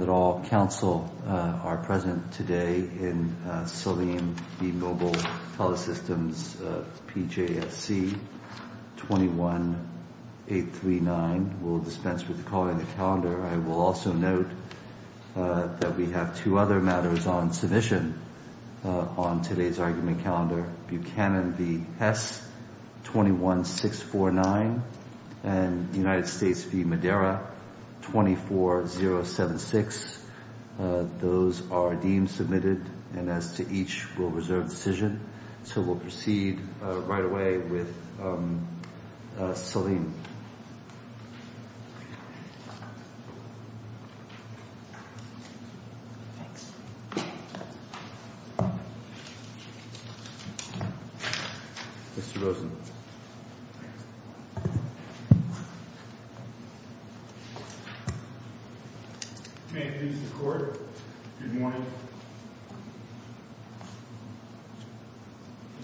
21-839. We'll dispense with calling the calendar. I will also note that we have two other matters on submission on today's argument calendar, Buchanan v. Hess, 21-649, and United States v. Madeira, 24-076. I will also note that we have two other matters on submission on today's argument calendar, Buchanan v. Hess, 24-076. Those are deemed submitted, and as to each, we'll reserve the decision. So we'll proceed right away with Salim. Mr. Rosen. May it please the Court, good morning.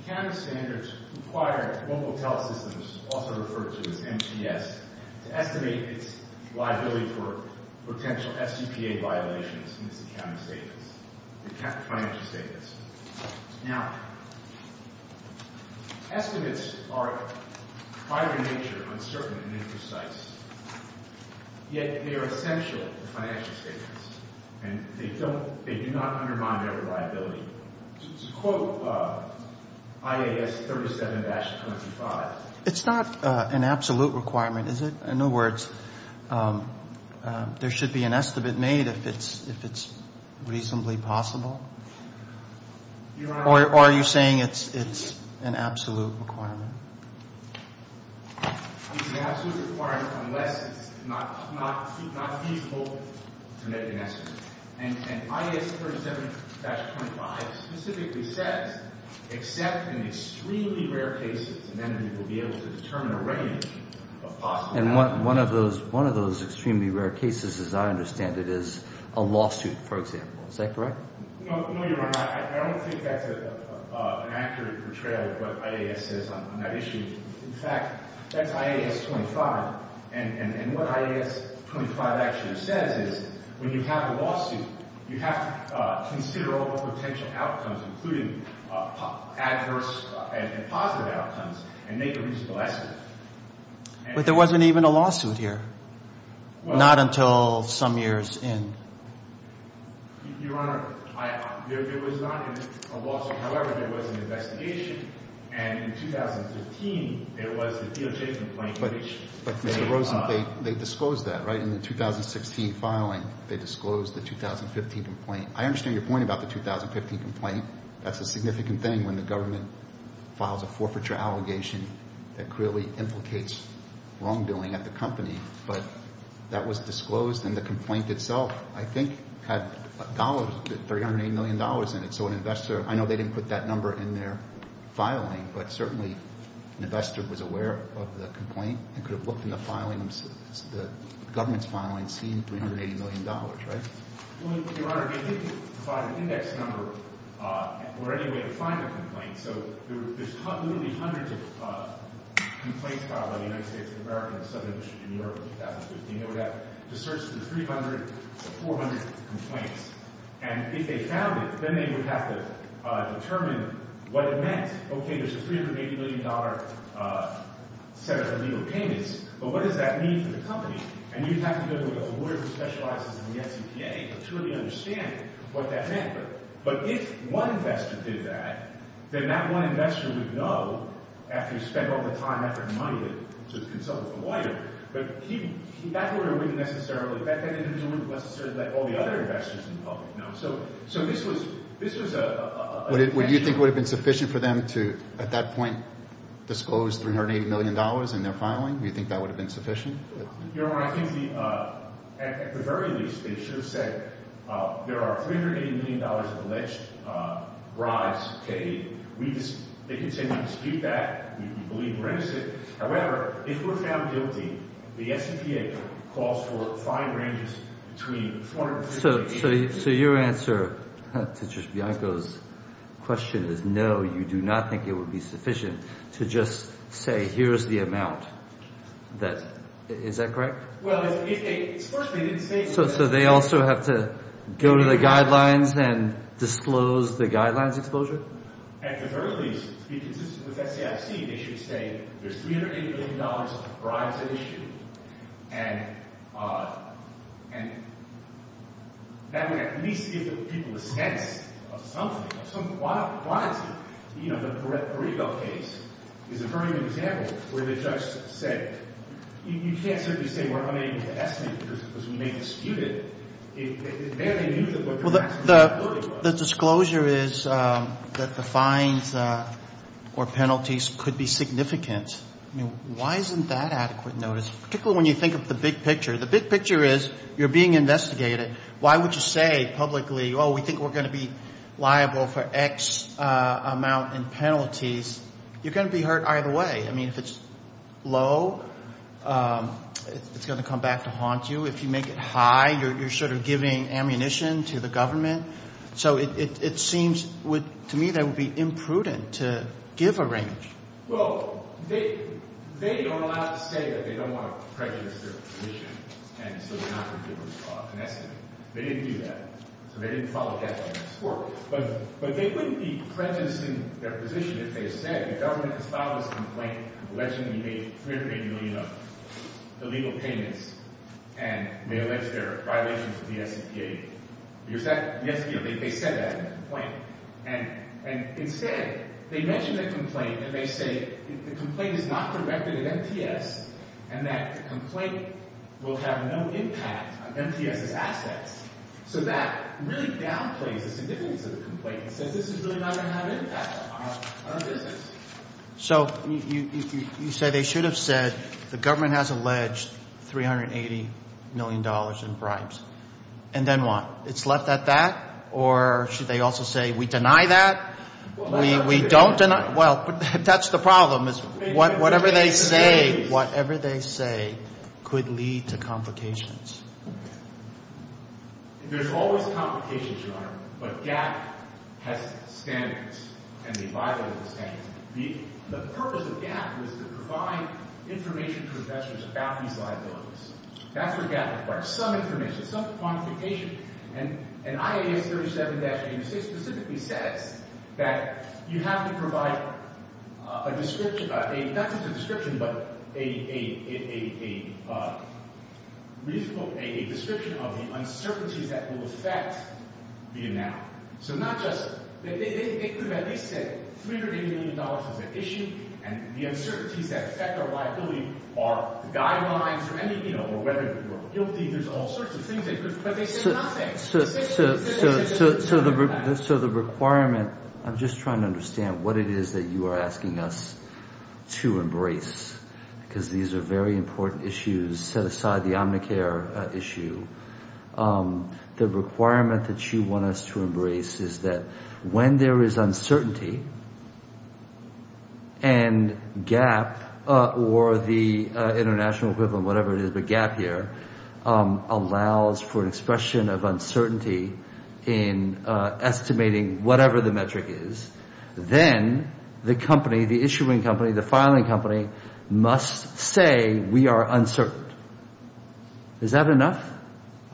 Accounting standards require Mobile TeleSystems, also referred to as MTS, to estimate its liability for potential FCPA violations in its accounting financial statements. Now, estimates are, by their nature, uncertain and imprecise, yet they are essential to financial statements, and they do not undermine their reliability. To quote IAS 37-25 It's not an absolute requirement, is it? In other words, there should be an estimate made if it's reasonably possible? Or are you saying it's an absolute requirement? It's an absolute requirement unless it's not feasible to make an estimate. And IAS 37-25 specifically says, except in extremely rare cases, and then we will be able to determine a range of possible outcomes. And one of those extremely rare cases, as I understand it, is a lawsuit, for example. Is that correct? No, Your Honor. I don't think that's an accurate portrayal of what IAS says on that issue. In fact, that's IAS 25. And what IAS 25 actually says is, when you have a lawsuit, you have to consider all potential outcomes, including adverse and positive outcomes, and make a reasonable estimate. But there wasn't even a lawsuit here, not until some years in. Your Honor, there was not a lawsuit. However, there was an investigation, and in 2015, there was the DOJ complaint. But, Mr. Rosen, they disclosed that, right? In the 2016 filing, they disclosed the 2015 complaint. I understand your point about the 2015 complaint. That's a significant thing when the government files a forfeiture allegation that clearly implicates wrongdoing at the company. But that was disclosed, and the complaint itself, I think, had dollars, $380 million in it. So an investor, I know they didn't put that number in their filing, but certainly an investor was aware of the complaint and could have looked in the file and found an index number or any way to find the complaint. So there's literally hundreds of complaints filed by the United States of America and the Southern District of New York in 2015. They would have to search through 300 to 400 complaints. And if they found it, then they would have to determine what it meant. Okay, there's a $380 million set of illegal payments, but what does that mean for the company? And you'd have to go to a lawyer who specializes in the SEPA to truly understand what that meant. But if one investor did that, then that one investor would know, after he spent all the time, effort, and money to consult with the lawyer. But that lawyer wouldn't necessarily, in fact, that investor wouldn't necessarily let all the other investors in the public know. So this was a... Would you think it would have been sufficient for them to, at that point, disclose $380 million in their filing? Do you think that would have been sufficient? Your Honor, I think at the very least, they should have said there are $380 million of alleged bribes paid. They could say we dispute that, we believe we're innocent. However, if we're found guilty, the SEPA calls for and the question is, no, you do not think it would be sufficient to just say here's the amount. Is that correct? Well, if they... First, they didn't say... So they also have to go to the guidelines and disclose the guidelines exposure? At the very least, to be consistent with SCFC, they should say there's $380 million of bribes at issue. And that would at least give the people a sense of something. Why is it, you know, the Pareto case is a very good example where the judge said, you can't simply say we're unable to estimate because we may dispute it. It's very unusual. The disclosure is that the fines or penalties could be significant. Why isn't that adequate notice? Particularly when you think of the big picture. The big picture is you're being investigated. Why would you say publicly, oh, we think we're going to be liable for X amount in penalties? You're going to be hurt either way. I mean, if it's low, it's going to come back to haunt you. If you make it high, you're sort of giving ammunition to the government. So it seems to me that it would be imprudent to give a range. Well, they are allowed to say that they don't want to prejudice their position. And so they're not going to give an estimate. They didn't do that. So they didn't follow death sentence. But they wouldn't be prejudiced in their position if they said the government has filed this complaint alleging illegal payments and may allege their violations of the SEPA. They said that in the complaint. And instead, they mention the complaint and they say the complaint is not corrected at MTS and that the complaint will have no impact on MTS's assets. So that really downplays the significance of the complaint and says this is really not going to have impact on our business. So you say they should have said the government has alleged $380 million in bribes. And then what? It's left at that? Or should they also say we deny that? We don't deny. Well, that's the problem is whatever they say, whatever they say could lead to complications. There's always complications, Your Honor. But GAAP has standards and they violate those standards. The purpose of GAAP is to provide information to investors about these liabilities. That's what GAAP requires. Some information, some quantification. And IAS 37-86 specifically says that you have to provide a description, not just a description, but a description of the uncertainties that will affect the amount. So not just, they could have at least said $380 million is an issue and the uncertainties that affect our liability are guidelines or whether we're guilty. There's all sorts of things. But they said nothing. So the requirement, I'm just trying to understand what it is that you are asking us to embrace because these are very important issues set aside the Omnicare issue. The requirement that you want us to embrace is that when there is uncertainty and GAAP or the international equivalent, whatever it is, but GAAP here, allows for an expression of uncertainty in estimating whatever the metric is. Then the company, the issuing company, the filing company, must say we are uncertain. Is that enough?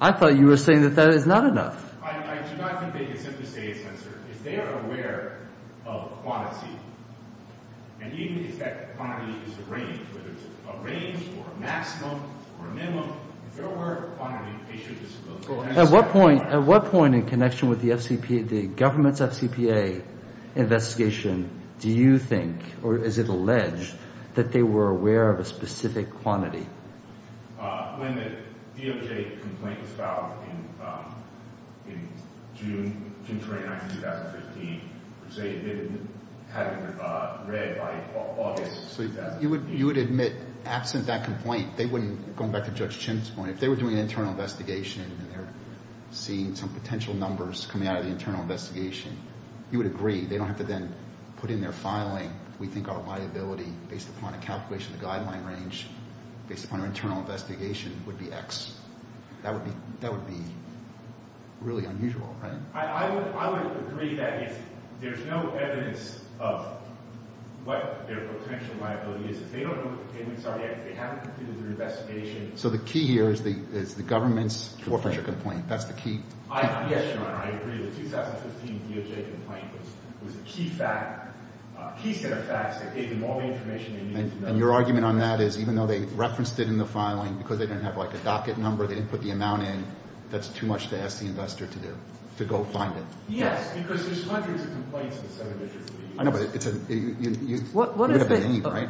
I thought you were saying that that is not enough. I do not think they can simply say it's uncertain. If they are aware of quantity, and even if that quantity is a range, whether it's a range or a maximum or a minimum, if they are aware of quantity, they should disavow. When the DOJ complaint was filed in June 29, 2015, they admitted having read by August. You would admit, absent that complaint, going back to Judge Chin's point, if they were doing an internal investigation, seeing some potential numbers coming out of the internal investigation, you would agree they don't have to then put in their filing. We think our liability, based upon a calculation of the guideline range, based upon our internal investigation, would be X. That would be really unusual, right? I would agree that if there is no evidence of what their potential liability is, if they don't know what the payments are yet, if they haven't completed their investigation... So the key here is the government's forfeiture complaint. Yes, Your Honor, I agree. The 2015 DOJ complaint was a key fact, a key set of facts that gave them all the information they needed to know. And your argument on that is, even though they referenced it in the filing, because they didn't have, like, a docket number, they didn't put the amount in, that's too much to ask the investor to do, to go find it? Yes, because there's hundreds of complaints in the seven digits of the U.S. I know, but it's a... What is the... I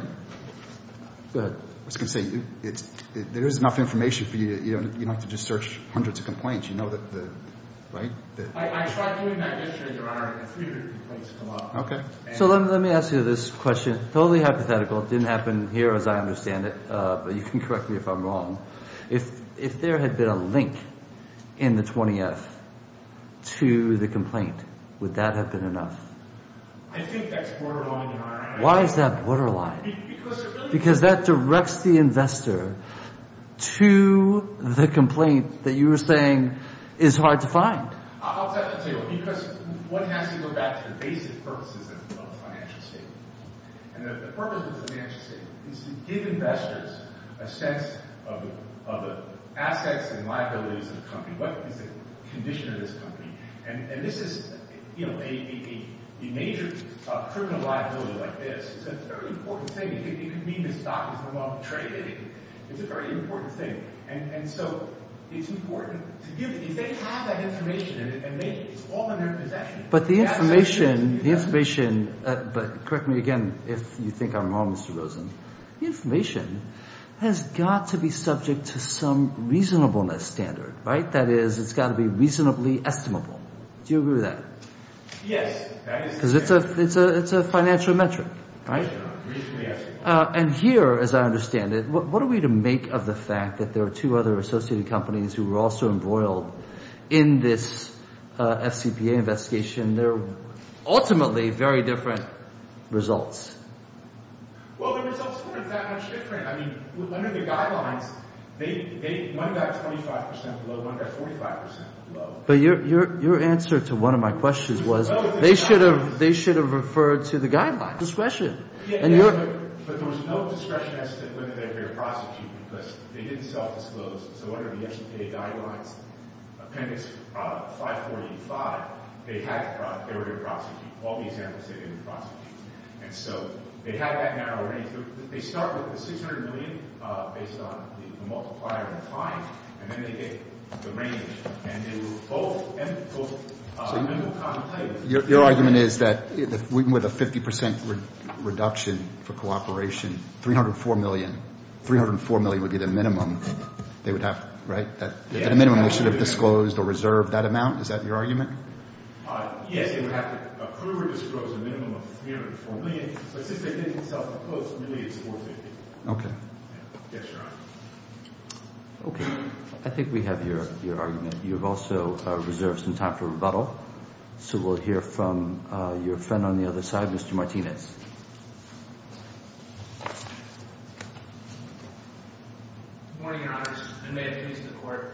tried doing that yesterday, Your Honor, and 300 complaints came up. I think that's borderline, Your Honor. Why is that borderline? Because that directs the investor to the complaint that you were saying is hard to find. I'll tell you what, because one has to go back to the basic purposes of a financial statement. And the purpose of a financial statement is to give investors a sense of the assets and liabilities of the company. What is the condition of this company? And this is, you know, a major criminal liability like this. It's a very important thing. You could mean this stock is no longer traded. It's a very important thing. And so it's important to give... If they have that information and it's all in their possession... But the information... But correct me again if you think I'm wrong, Mr. Rosen. The information has got to be subject to some reasonableness standard, right? The fact that is, it's got to be reasonably estimable. Do you agree with that? Yes. Because it's a financial metric, right? And here, as I understand it, what are we to make of the fact that there are two other associated companies who were also embroiled in this FCPA investigation? They're ultimately very different results. Well, the results weren't that much different. I mean, under the guidelines, one got 25 percent below, one got 45 percent below. But your answer to one of my questions was they should have referred to the guidelines. Discretion. But there was no discretion as to whether they were going to prosecute because they didn't self-disclose. So under the FCPA guidelines, Appendix 5485, they were going to prosecute. All the examples say they were going to prosecute. And so they had that narrow range. And they start with the $600 million based on the multiplier and the time, and then they get the range. And they were both minimal contemplated. So your argument is that with a 50 percent reduction for cooperation, $304 million, $304 million would be the minimum they would have, right? The minimum they should have disclosed or reserved, that amount, is that your argument? Yes. They would have to approve or disclose a minimum of $304 million. But since they didn't self-disclose, really it's $450 million. Okay. Yes, Your Honor. Okay. I think we have your argument. You have also reserved some time for rebuttal. So we'll hear from your friend on the other side, Mr. Martinez. Good morning, Your Honor. I made a case in the court.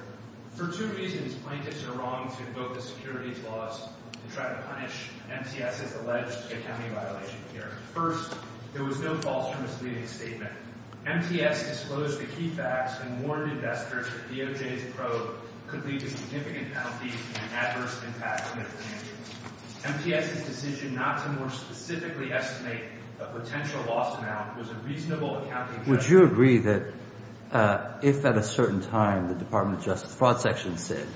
For two reasons, plaintiffs are wrong to invoke the securities laws and try to punish MTS's alleged accounting violation here. First, there was no false or misleading statement. MTS disclosed the key facts and warned investors that DOJ's probe could lead to significant penalties and adverse impacts on their financials. MTS's decision not to more specifically estimate a potential loss amount was a reasonable accounting judgment. Would you agree that if at a certain time the Department of Justice Fraud Section said,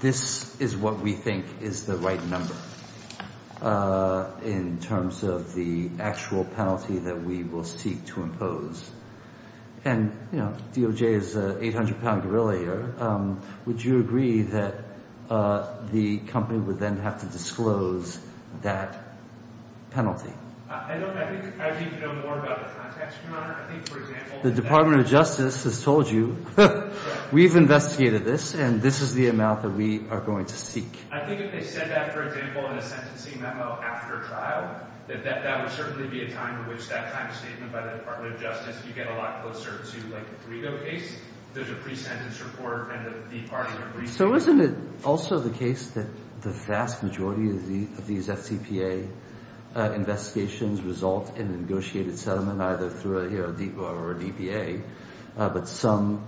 this is what we think is the right number in terms of the actual penalty that we will seek to impose, and, you know, DOJ is an 800-pound gorilla here, would you agree that the company would then have to disclose that penalty? I don't know. I think I would need to know more about the context, Your Honor. I think, for example— The Department of Justice has told you, we've investigated this, and this is the amount that we are going to seek. I think if they said that, for example, in a sentencing memo after trial, that that would certainly be a time in which that kind of statement by the Department of Justice, you get a lot closer to, like, the Frigo case. There's a pre-sentence report and the Department of Research— So isn't it also the case that the vast majority of these FCPA investigations result in a negotiated settlement, either through a DEPA or a DPA, but some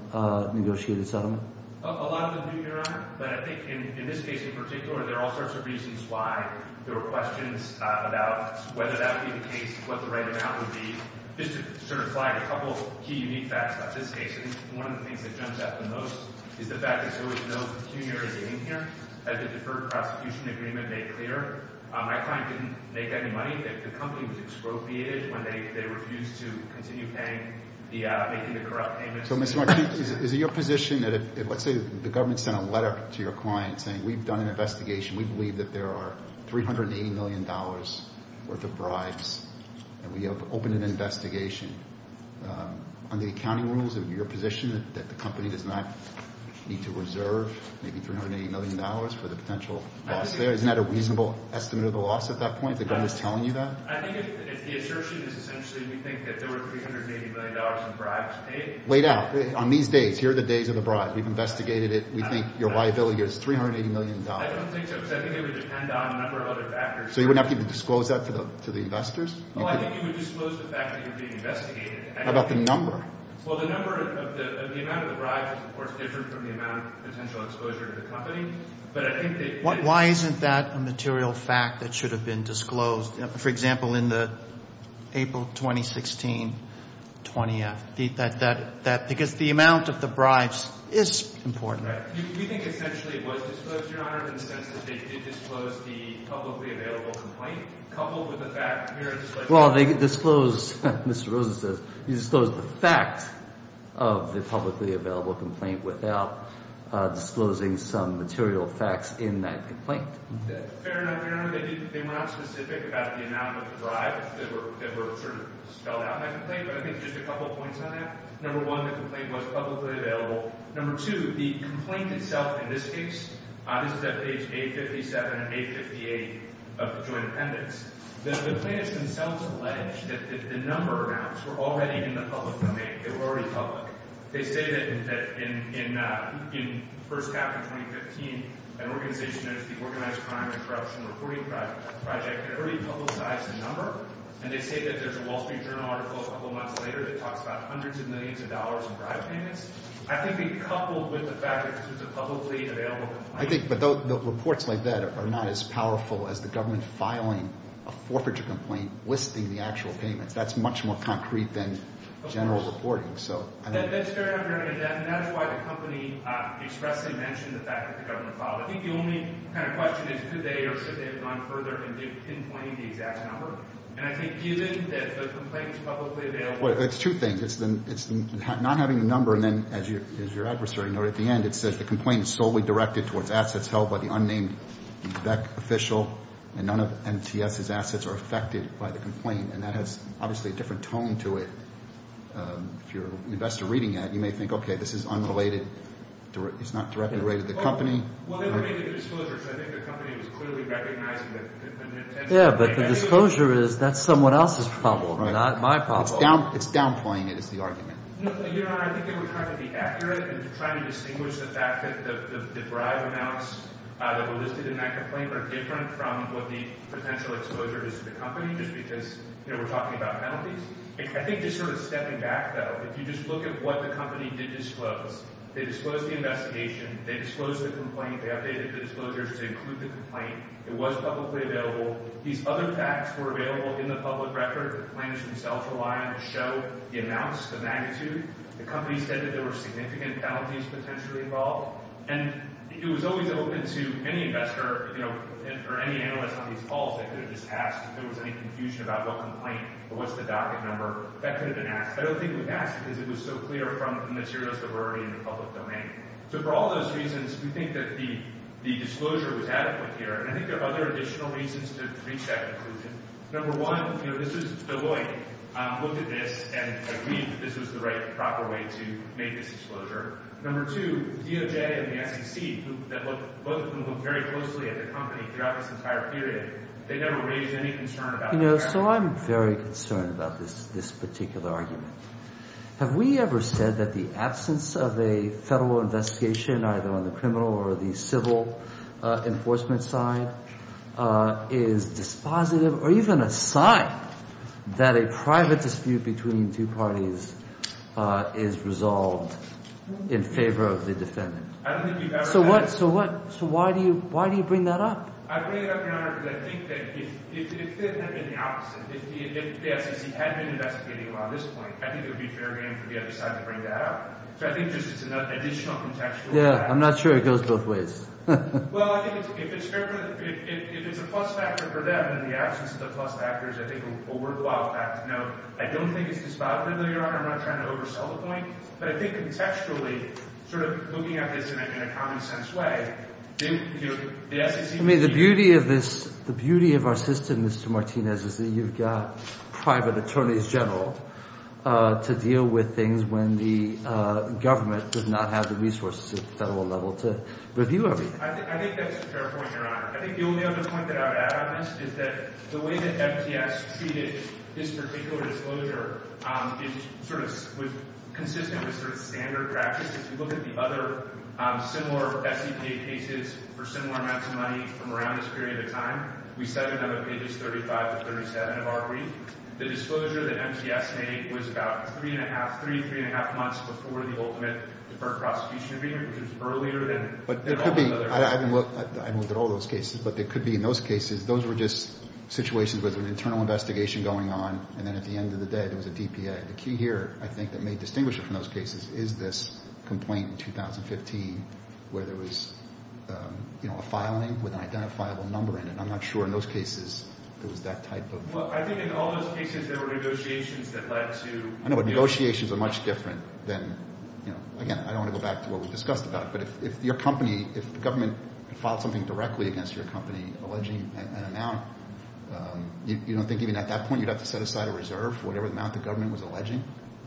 negotiated settlement? A lot of them do, Your Honor, but I think in this case in particular, there are all sorts of reasons why there were questions about whether that would be the case, what the right amount would be, just to sort of slide a couple of key, unique facts about this case. I think one of the things that jumps out the most is the fact that there was no pecuniary meeting here. As the Deferred Prosecution Agreement made clear, my client didn't make any money. The company was expropriated when they refused to continue making the corrupt payments. So, Mr. Marquis, is it your position that if, let's say, the government sent a letter to your client saying, we've done an investigation, we believe that there are $380 million worth of bribes, and we have opened an investigation, under the accounting rules, is it your position that the company does not need to reserve maybe $380 million for the potential loss there? Isn't that a reasonable estimate of the loss at that point, if the government is telling you that? I think if the assertion is essentially we think that there were $380 million in bribes paid— Weighed out. On these days, here are the days of the bribe. We've investigated it. We think your liability is $380 million. I don't think so, because I think it would depend on a number of other factors. So you wouldn't have to even disclose that to the investors? Well, I think you would disclose the fact that you're being investigated. How about the number? Well, the number of the—the amount of the bribes is, of course, different from the amount of potential exposure to the company. But I think that— Why isn't that a material fact that should have been disclosed? For example, in the April 2016 20th, that—because the amount of the bribes is important. Right. We think essentially it was disclosed, Your Honor, in the sense that they did disclose the publicly available complaint, coupled with the fact— Well, they disclosed—Mr. Rosen says they disclosed the facts of the publicly available complaint without disclosing some material facts in that complaint. Fair enough, Your Honor. They were not specific about the amount of the bribes that were spelled out in that complaint. But I think just a couple of points on that. Number one, the complaint was publicly available. Number two, the complaint itself in this case—this is at page 857 and 858 of the joint appendix— the plaintiffs themselves allege that the number amounts were already in the public domain. They were already public. They say that in—in first cap in 2015, an organization known as the Organized Crime Interruption Reporting Project had already publicized the number. And they say that there's a Wall Street Journal article a couple months later that talks about hundreds of millions of dollars in bribe payments. I think they coupled with the fact that this was a publicly available complaint. I think—but the reports like that are not as powerful as the government filing a forfeiture complaint listing the actual payments. That's much more concrete than general reporting. So I think— That's fair enough, Your Honor. And that's why the company expressly mentioned the fact that the government filed it. I think the only kind of question is could they or should they have gone further and pinpointed the exact number? And I think given that the complaint was publicly available— Well, it's two things. It's the not having the number and then, as your adversary noted at the end, it says the complaint is solely directed towards assets held by the unnamed Beck official, and none of MTS's assets are affected by the complaint. And that has obviously a different tone to it. If you're an investor reading that, you may think, okay, this is unrelated. It's not directly related to the company. Well, they're related to disclosures. I think the company was clearly recognizing that— Yeah, but the disclosure is that's someone else's problem, not my problem. It's downplaying it is the argument. Your Honor, I think they were trying to be accurate and trying to distinguish the fact that the bribe amounts that were listed in that complaint were different from what the potential exposure is to the company just because they were talking about penalties. I think just sort of stepping back, though, if you just look at what the company did disclose, they disclosed the investigation, they disclosed the complaint, they updated the disclosures to include the complaint. It was publicly available. These other facts were available in the public record. The claims themselves rely on the show, the amounts, the magnitude. The company said that there were significant penalties potentially involved. And it was always open to any investor or any analyst on these calls. They could have just asked if there was any confusion about what complaint or what's the docket number. That could have been asked. I don't think it was asked because it was so clear from the materials that were already in the public domain. So for all those reasons, we think that the disclosure was adequate here. And I think there are other additional reasons to reach that conclusion. Number one, this is Deloitte. Looked at this and agreed that this was the right and proper way to make this disclosure. Number two, DOJ and the SEC, both of whom looked very closely at the company throughout this entire period, they never raised any concern about that. So I'm very concerned about this particular argument. Have we ever said that the absence of a federal investigation, either on the criminal or the civil enforcement side, is dispositive or even a sign that a private dispute between two parties is resolved in favor of the defendant? So why do you bring that up? I bring it up, Your Honor, because I think that if it had been the opposite, if the SEC had been investigating on this point, I think it would be fair game for the other side to bring that up. So I think this is an additional contextual fact. Yeah, I'm not sure it goes both ways. Well, I think if it's a plus factor for them and the absence of the plus factors, I think it would be a worthwhile fact to note. I don't think it's dispositive, Your Honor. I'm not trying to oversell the point. But I think contextually, sort of looking at this in a common-sense way, the SEC... I mean, the beauty of this, the beauty of our system, Mr. Martinez, is that you've got private attorneys general to deal with things when the government does not have the resources at the federal level to review everything. I think that's a fair point, Your Honor. I think the only other point that I would add on this is that the way that MTS treated this particular disclosure is sort of consistent with sort of standard practice. If you look at the other similar SEC cases for similar amounts of money from around this period of time, we cited them in pages 35 to 37 of our brief. The disclosure that MTS made was about three, three-and-a-half months before the ultimate deferred prosecution agreement, which was earlier than all the other... I haven't looked at all those cases, but it could be in those cases. Those were just situations with an internal investigation going on, and then at the end of the day, there was a DPA. The key here, I think, that may distinguish it from those cases is this complaint in 2015 where there was a filing with an identifiable number in it. I'm not sure in those cases there was that type of... Well, I think in all those cases, there were negotiations that led to... I know, but negotiations are much different than... Again, I don't want to go back to what we discussed about it, but if your company, if the government filed something directly against your company alleging an amount, you don't think even at that point you'd have to set aside a reserve for whatever amount the government was alleging?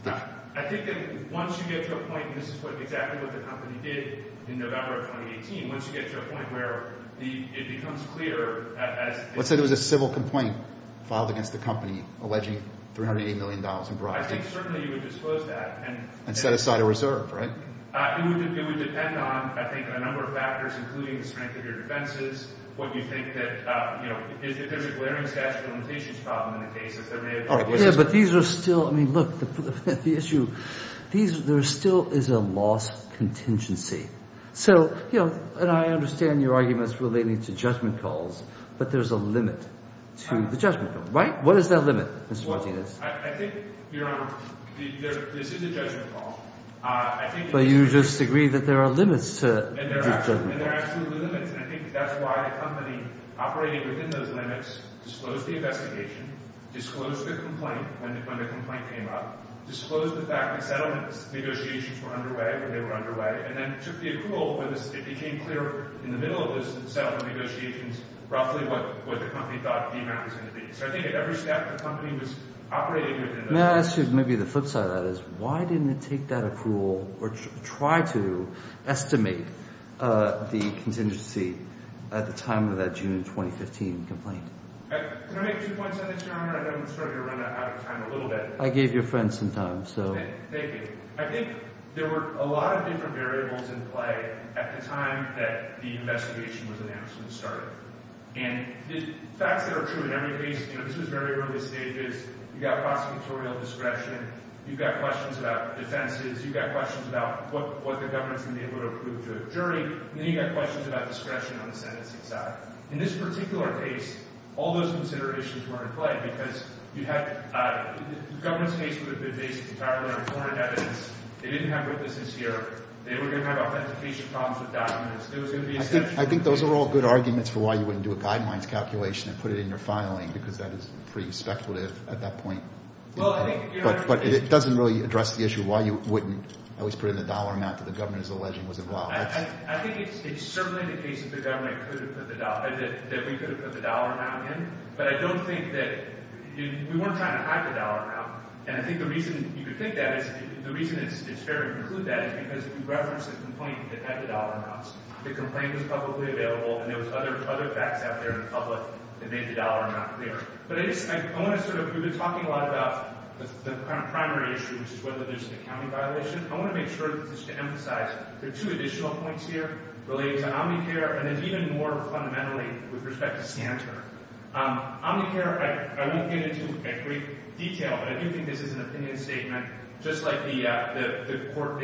I think that once you get to a point, and this is exactly what the company did in November of 2018, once you get to a point where it becomes clear as... You filed against the company alleging $380 million in bribes. I think certainly you would disclose that and... And set aside a reserve, right? It would depend on, I think, a number of factors, including the strength of your defenses, what you think that, you know, if there's a glaring statute of limitations problem in the case, if there may have been... Yeah, but these are still... I mean, look, the issue, there still is a loss contingency. So, you know, and I understand your arguments relating to judgment calls, but there's a limit to the judgment call, right? What is that limit, Mr. Martinez? Well, I think, Your Honor, this is a judgment call. I think... But you disagree that there are limits to judgment calls. And there are absolutely limits, and I think that's why the company operating within those limits disclosed the investigation, disclosed the complaint when the complaint came up, disclosed the fact that settlement negotiations were underway, when they were underway, and then took the approval, it became clear in the middle of those settlement negotiations roughly what the company thought the amount was going to be. So I think at every step, the company was operating within those limits. May I ask you, maybe the flip side of that is, why didn't it take that approval or try to estimate the contingency at the time of that June 2015 complaint? Can I make two points on this, Your Honor? I know I'm starting to run out of time a little bit. I gave your friend some time, so... Thank you. I think there were a lot of different variables in play at the time that the investigation was announced and started. And the facts that are true in every case, this was very early stages, you've got prosecutorial discretion, you've got questions about defenses, you've got questions about what the government's going to be able to approve to a jury, and then you've got questions about discretion on the sentencing side. In this particular case, all those considerations were in play because the government's case would have been based entirely on recorded evidence. They didn't have witnesses here. They were going to have authentication problems with documents. I think those are all good arguments for why you wouldn't do a guidelines calculation and put it in your filing because that is pretty speculative at that point. But it doesn't really address the issue why you wouldn't always put in the dollar amount that the government is alleging was involved. I think it's certainly the case that the government could have put the dollar, that we could have put the dollar amount in, but I don't think that... We weren't trying to hide the dollar amount, and I think the reason you could think that is... The reason it's fair to conclude that is because we referenced a complaint that had the dollar amounts. The complaint was publicly available, and there was other facts out there in public that made the dollar amount clear. But I want to sort of... We've been talking a lot about the primary issue, which is whether there's an accounting violation. I want to make sure just to emphasize there are two additional points here relating to Omnicare, and then even more fundamentally with respect to Santer. Omnicare, I won't get into in great detail, but I do think this is an opinion statement, just like the court...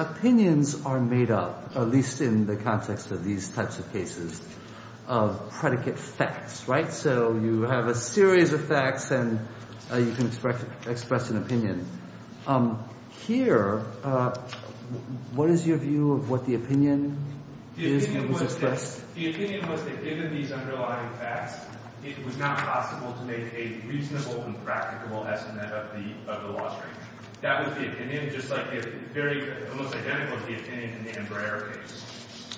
Opinions are made up, at least in the context of these types of cases, of predicate facts, right? So you have a series of facts, and you can express an opinion. Here, what is your view of what the opinion is that was expressed? The opinion was that given these underlying facts, it was not possible to make a reasonable and practicable estimate of the loss rate. That was the opinion, just like the very almost identical to the opinion in the Andrea case.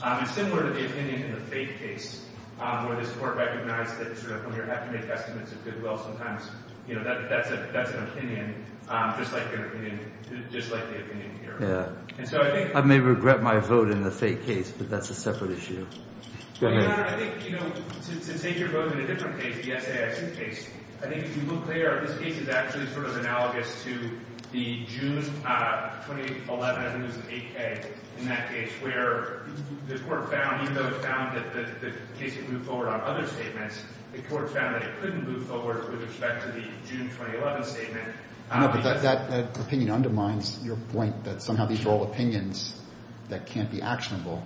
It's similar to the opinion in the Faith case, where this court recognized that when you have to make estimates of goodwill sometimes, that's an opinion, just like the opinion here. I may regret my vote in the Faith case, but that's a separate issue. Your Honor, I think, you know, to take your vote in a different case, the SAIC case, I think if you look there, this case is actually sort of analogous to the June 2011, I think it was the 8K in that case, where the court found, even though it found that the case had moved forward on other statements, the court found that it couldn't move forward with respect to the June 2011 statement. No, but that opinion undermines your point that somehow these are all opinions that can't be actionable.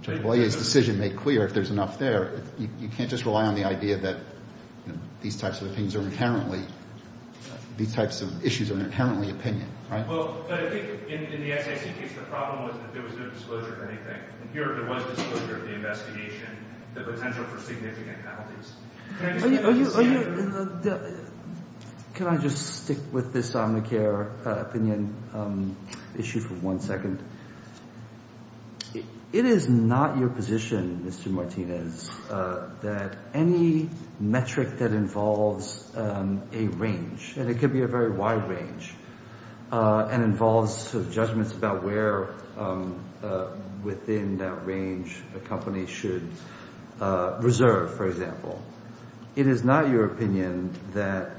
Judge Bollea's decision made clear, if there's enough there, you can't just rely on the idea that these types of opinions are inherently, these types of issues are inherently opinion, right? Well, but I think in the SAIC case, the problem was that there was no disclosure of anything. And here, there was disclosure of the investigation, the potential for significant penalties. Can I just... Are you... Can I just stick with this Omnicare opinion? Issue for one second. It is not your position, Mr. Martinez, that any metric that involves a range, and it could be a very wide range, and involves judgments about where, within that range, a company should reserve, for example. It is not your opinion that...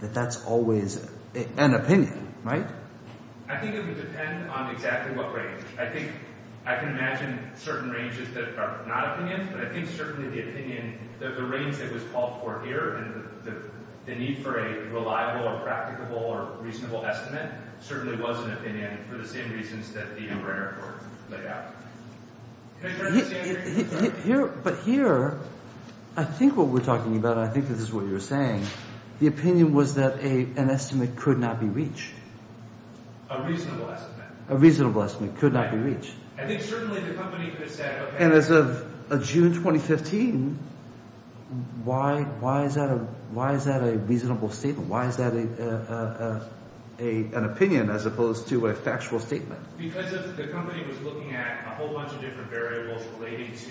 It is an opinion, right? I think it would depend on exactly what range. I think I can imagine certain ranges that are not opinions, but I think certainly the opinion, the range that was called for here, and the need for a reliable or practicable or reasonable estimate, certainly was an opinion, for the same reasons that the O'Brien report laid out. Can I try the same thing? Here, but here, I think what we're talking about, and I think this is what you're saying, the opinion was that an estimate could not be reached. A reasonable estimate. A reasonable estimate could not be reached. I think certainly the company could have said... And as of June 2015, why is that a reasonable statement? Why is that an opinion, as opposed to a factual statement? Because the company was looking at a whole bunch of different variables relating to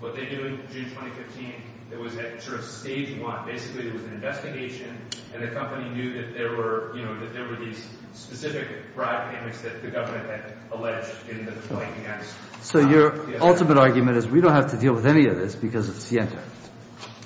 what they do in June 2015. It was at sort of stage one. Basically, it was an investigation, and the company knew that there were these specific broad pandemics that the government had alleged in the complaint against... So your ultimate argument is, we don't have to deal with any of this because it's Sienta.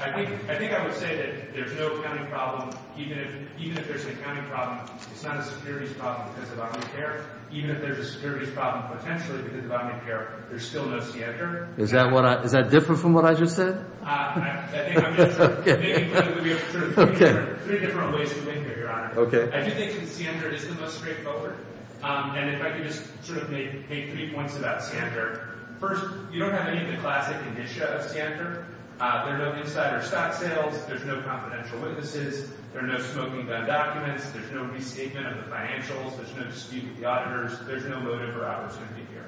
I think I would say that there's no accounting problem. Even if there's an accounting problem, it's not a securities problem because of unpaid care. Even if there's a securities problem, potentially because of unpaid care, there's still no Sienta. Is that different from what I just said? I think I'm just... Maybe it would be sort of three different ways of looking at it, Your Honor. I do think that Sienta is the most straightforward. And if I could just sort of make three points about Sienta. First, you don't have any of the classic initia of Sienta. There are no insider stock sales. There's no confidential witnesses. There are no smoking gun documents. There's no restatement of the financials. There's no dispute with the auditors. There's no motive or opportunity here.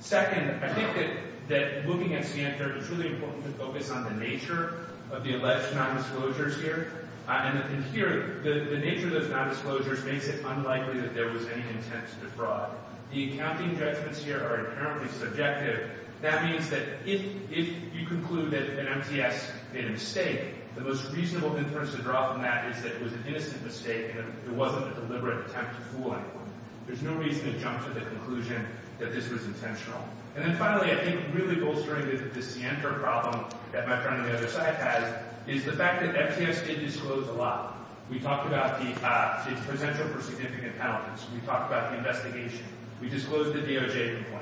Second, I think that looking at Sienta, it's really important to focus on the nature of the alleged nondisclosures here. And here, the nature of those nondisclosures makes it unlikely that there was any intent to defraud. The accounting judgments here are apparently subjective. That means that if you conclude that an MTS made a mistake, the most reasonable inference to draw from that is that it was an innocent mistake and it wasn't a deliberate attempt to fool anyone. There's no reason to jump to the conclusion that this was intentional. And then finally, I think really bolstering the Sienta problem that my friend on the other side has is the fact that MTS did disclose a lot. We talked about the potential for significant penalties. We talked about the investigation. We disclosed the DOJ complaint.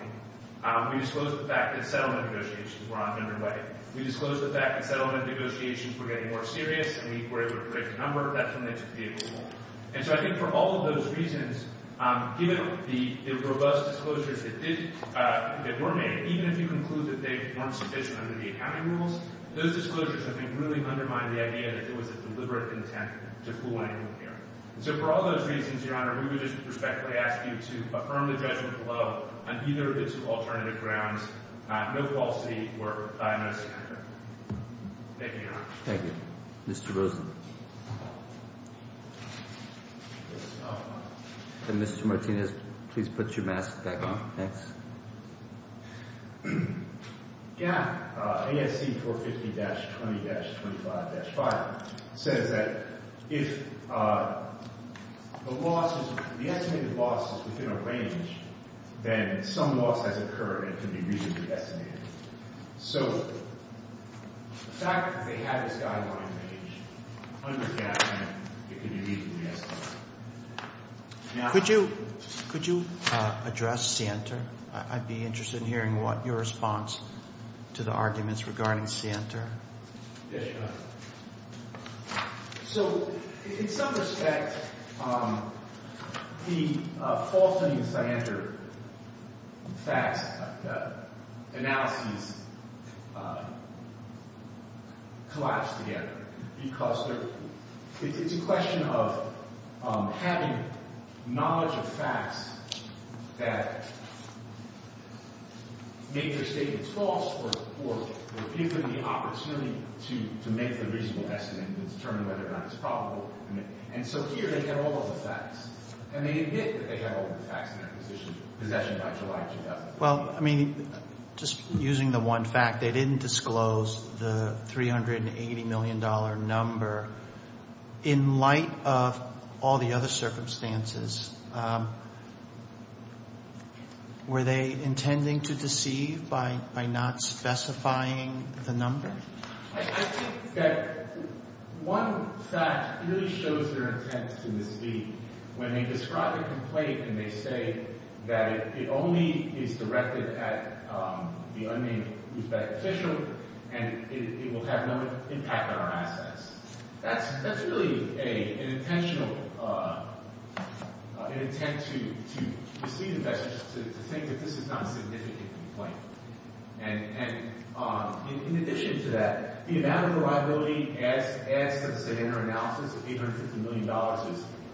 We disclosed the fact that settlement negotiations were underway. We disclosed the fact that settlement negotiations were getting more serious, and we were able to predict the number of death permits available. And so I think for all of those reasons, given the robust disclosures that were made, even if you conclude that they weren't sufficient under the accounting rules, those disclosures I think really undermine the idea that there was a deliberate intent to fool anyone here. And so for all those reasons, Your Honor, we would just respectfully ask you to affirm the judgment below on either of its alternative grounds, no falsity or by no standard. Thank you, Your Honor. Thank you. Mr. Rosen. And Mr. Martinez, please put your mask back on. Thanks. Yeah. ASC 450-20-25-5 says that if the estimated loss is within a range, then some loss has occurred and can be reasonably estimated. So the fact that they have this guideline range under GAAP can be reasonably estimated. Could you address Sienter? I'd be interested in hearing your response to the arguments regarding Sienter. Yes, Your Honor. So in some respect, the falsehood in Sienter is that the facts, the analyses collapse together. Because it's a question of having knowledge of facts that make their statements false or give them the opportunity to make the reasonable estimate and determine whether or not it's probable. And so here, they have all of the facts. And they admit that they have all of the facts in their possession by July 2007. Well, I mean, just using the one fact, they didn't disclose the $380 million number. In light of all the other circumstances, were they intending to deceive by not specifying the number? I think that one fact really shows their intent to mislead. When they describe a complaint and they say that it only is directed at the unnamed Uzbek official and it will have no impact on our assets, that's really an intent to mislead investors to think that this is not a significant complaint. And in addition to that, the amount of reliability as, let's say, in their analysis of $850 million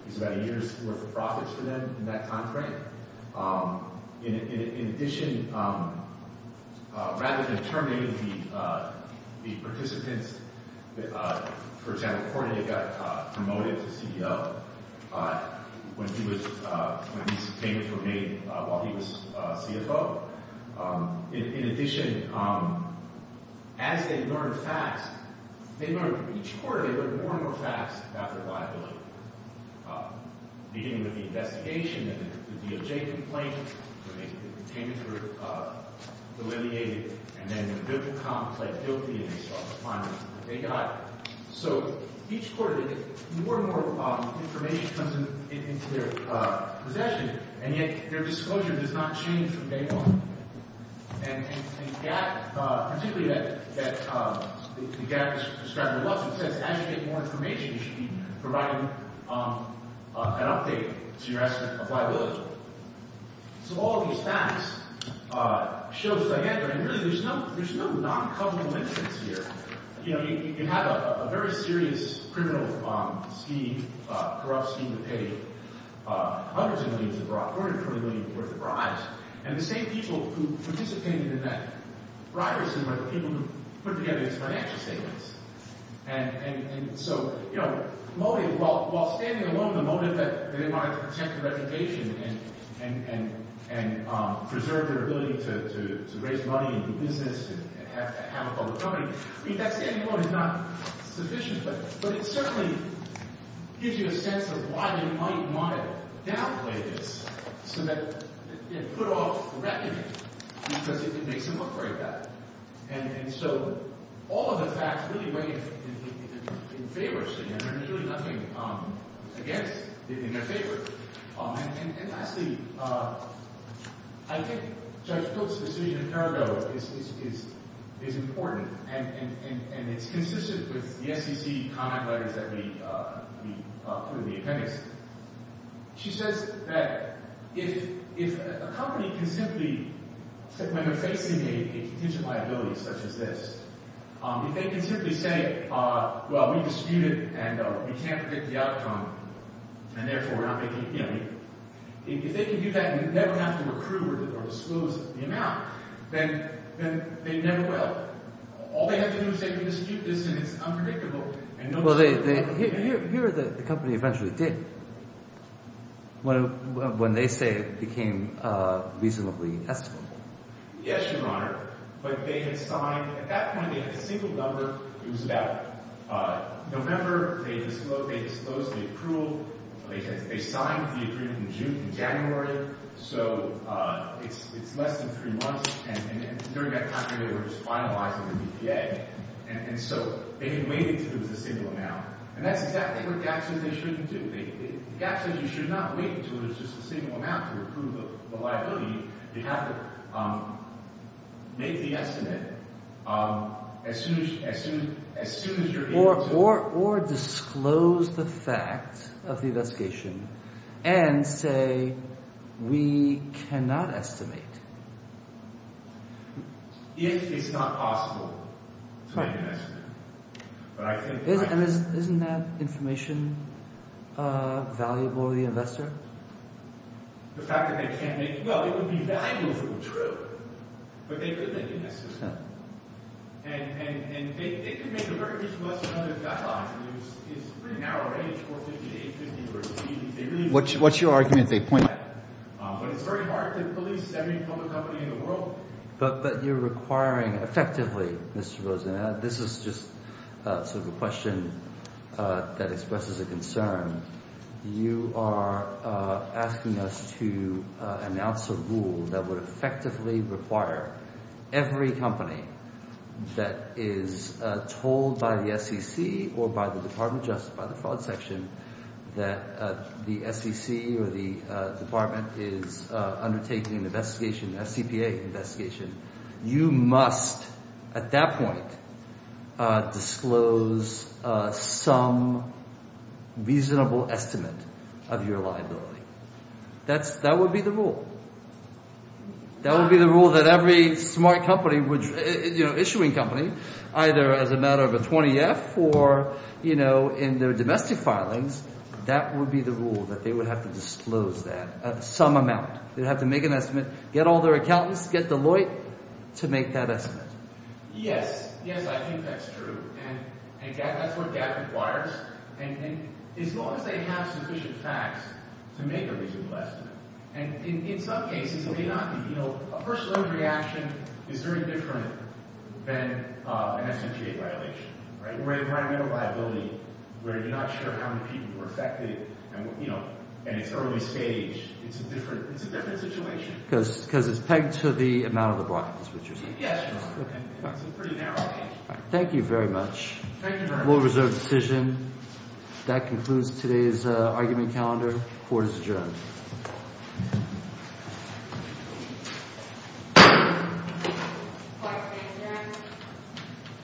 is about a year's worth of profits for them in that time frame. In addition, rather than terminating the participants, for example, Kordaev got promoted to CEO when these payments were made while he was CFO. In addition, as they learned facts, each quarter they learned more and more facts about the reliability. Beginning with the investigation, the DOJ complaint, the payments were delineated, and then the digital comp played duty and they saw the findings that they got. So each quarter, more and more information comes into their possession, and yet their disclosure does not change from day one. And the gap, particularly that the gap that's described above, it says as you get more information you should be providing an update to your estimate of liability. So all of these facts show that, again, there's no non-cumulative interest here. You can have a very serious criminal scheme, corrupt scheme to pay hundreds of millions of dollars, according to Kordaev, worth of bribes. And the same people who participated in that bribery scheme were the people who put together these financial statements. And so while standing alone, the motive that they wanted to protect the reputation and preserve their ability to raise money and do business and have a public company, that standing alone is not sufficient. But it certainly gives you a sense of why they might want to downplay this, so that they put off the reputation, because it makes them look very bad. And so all of the facts really weigh in favor of CNN. There's really nothing against it in their favor. And lastly, I think Judge Cook's decision in Parado is important. And it's consistent with the SEC comment letters that we put in the appendix. She says that if a company can simply, when they're facing a contingent liability such as this, if they can simply say, well, we disputed and we can't predict the outcome, and therefore we're not making a payment, if they can do that and never have to recruit or disclose the amount, then they never will. All they have to do is say, we disputed this and it's unpredictable. Well, here the company eventually did, when they say it became reasonably estimable. Yes, Your Honor. But they had signed. At that point, they had a single number. It was about November. They disclosed the approval. They signed the agreement in January. So it's less than three months. And during that time, they were just finalizing the BPA. And so they had waited until there was a single amount. And that's exactly what GAP says they shouldn't do. GAP says you should not wait until there's just a single amount to approve the liability. You have to make the estimate as soon as you're able to. Or disclose the fact of the investigation and say, we cannot estimate. It is not possible to make an estimate. Isn't that information valuable to the investor? The fact that they can't make it. Well, it would be valuable if it were true. But they couldn't make an estimate. And they could make a very reasonable estimate of the guidelines. It's pretty narrow, right? It's 450 to 850. What's your argument? But it's very hard to police every public company in the world. But you're requiring, effectively, Mr. Rosen, this is just sort of a question that expresses a concern. You are asking us to announce a rule that would effectively require every company that is told by the SEC or by the Department of Justice, by the fraud section, that the SEC or the department is undertaking an investigation, a CPA investigation, you must, at that point, disclose some reasonable estimate of your liability. That would be the rule. That would be the rule that every smart company, issuing company, either as a matter of a 20-F or in their domestic filings, that would be the rule that they would have to disclose that, some amount. They'd have to make an estimate, get all their accountants, get Deloitte to make that estimate. Yes. Yes, I think that's true. And that's what GAAP requires. And as long as they have sufficient facts to make a reasonable estimate. And in some cases, it may not be. A first-order reaction is very different than an SMGA violation. Or environmental liability, where you're not sure how many people were affected, and it's early stage. It's a different situation. Because it's pegged to the amount of the block, is what you're saying. Yes. It's a pretty narrow page. Thank you very much. Thank you very much. Rule of reserve decision. That concludes today's argument calendar. Court is adjourned.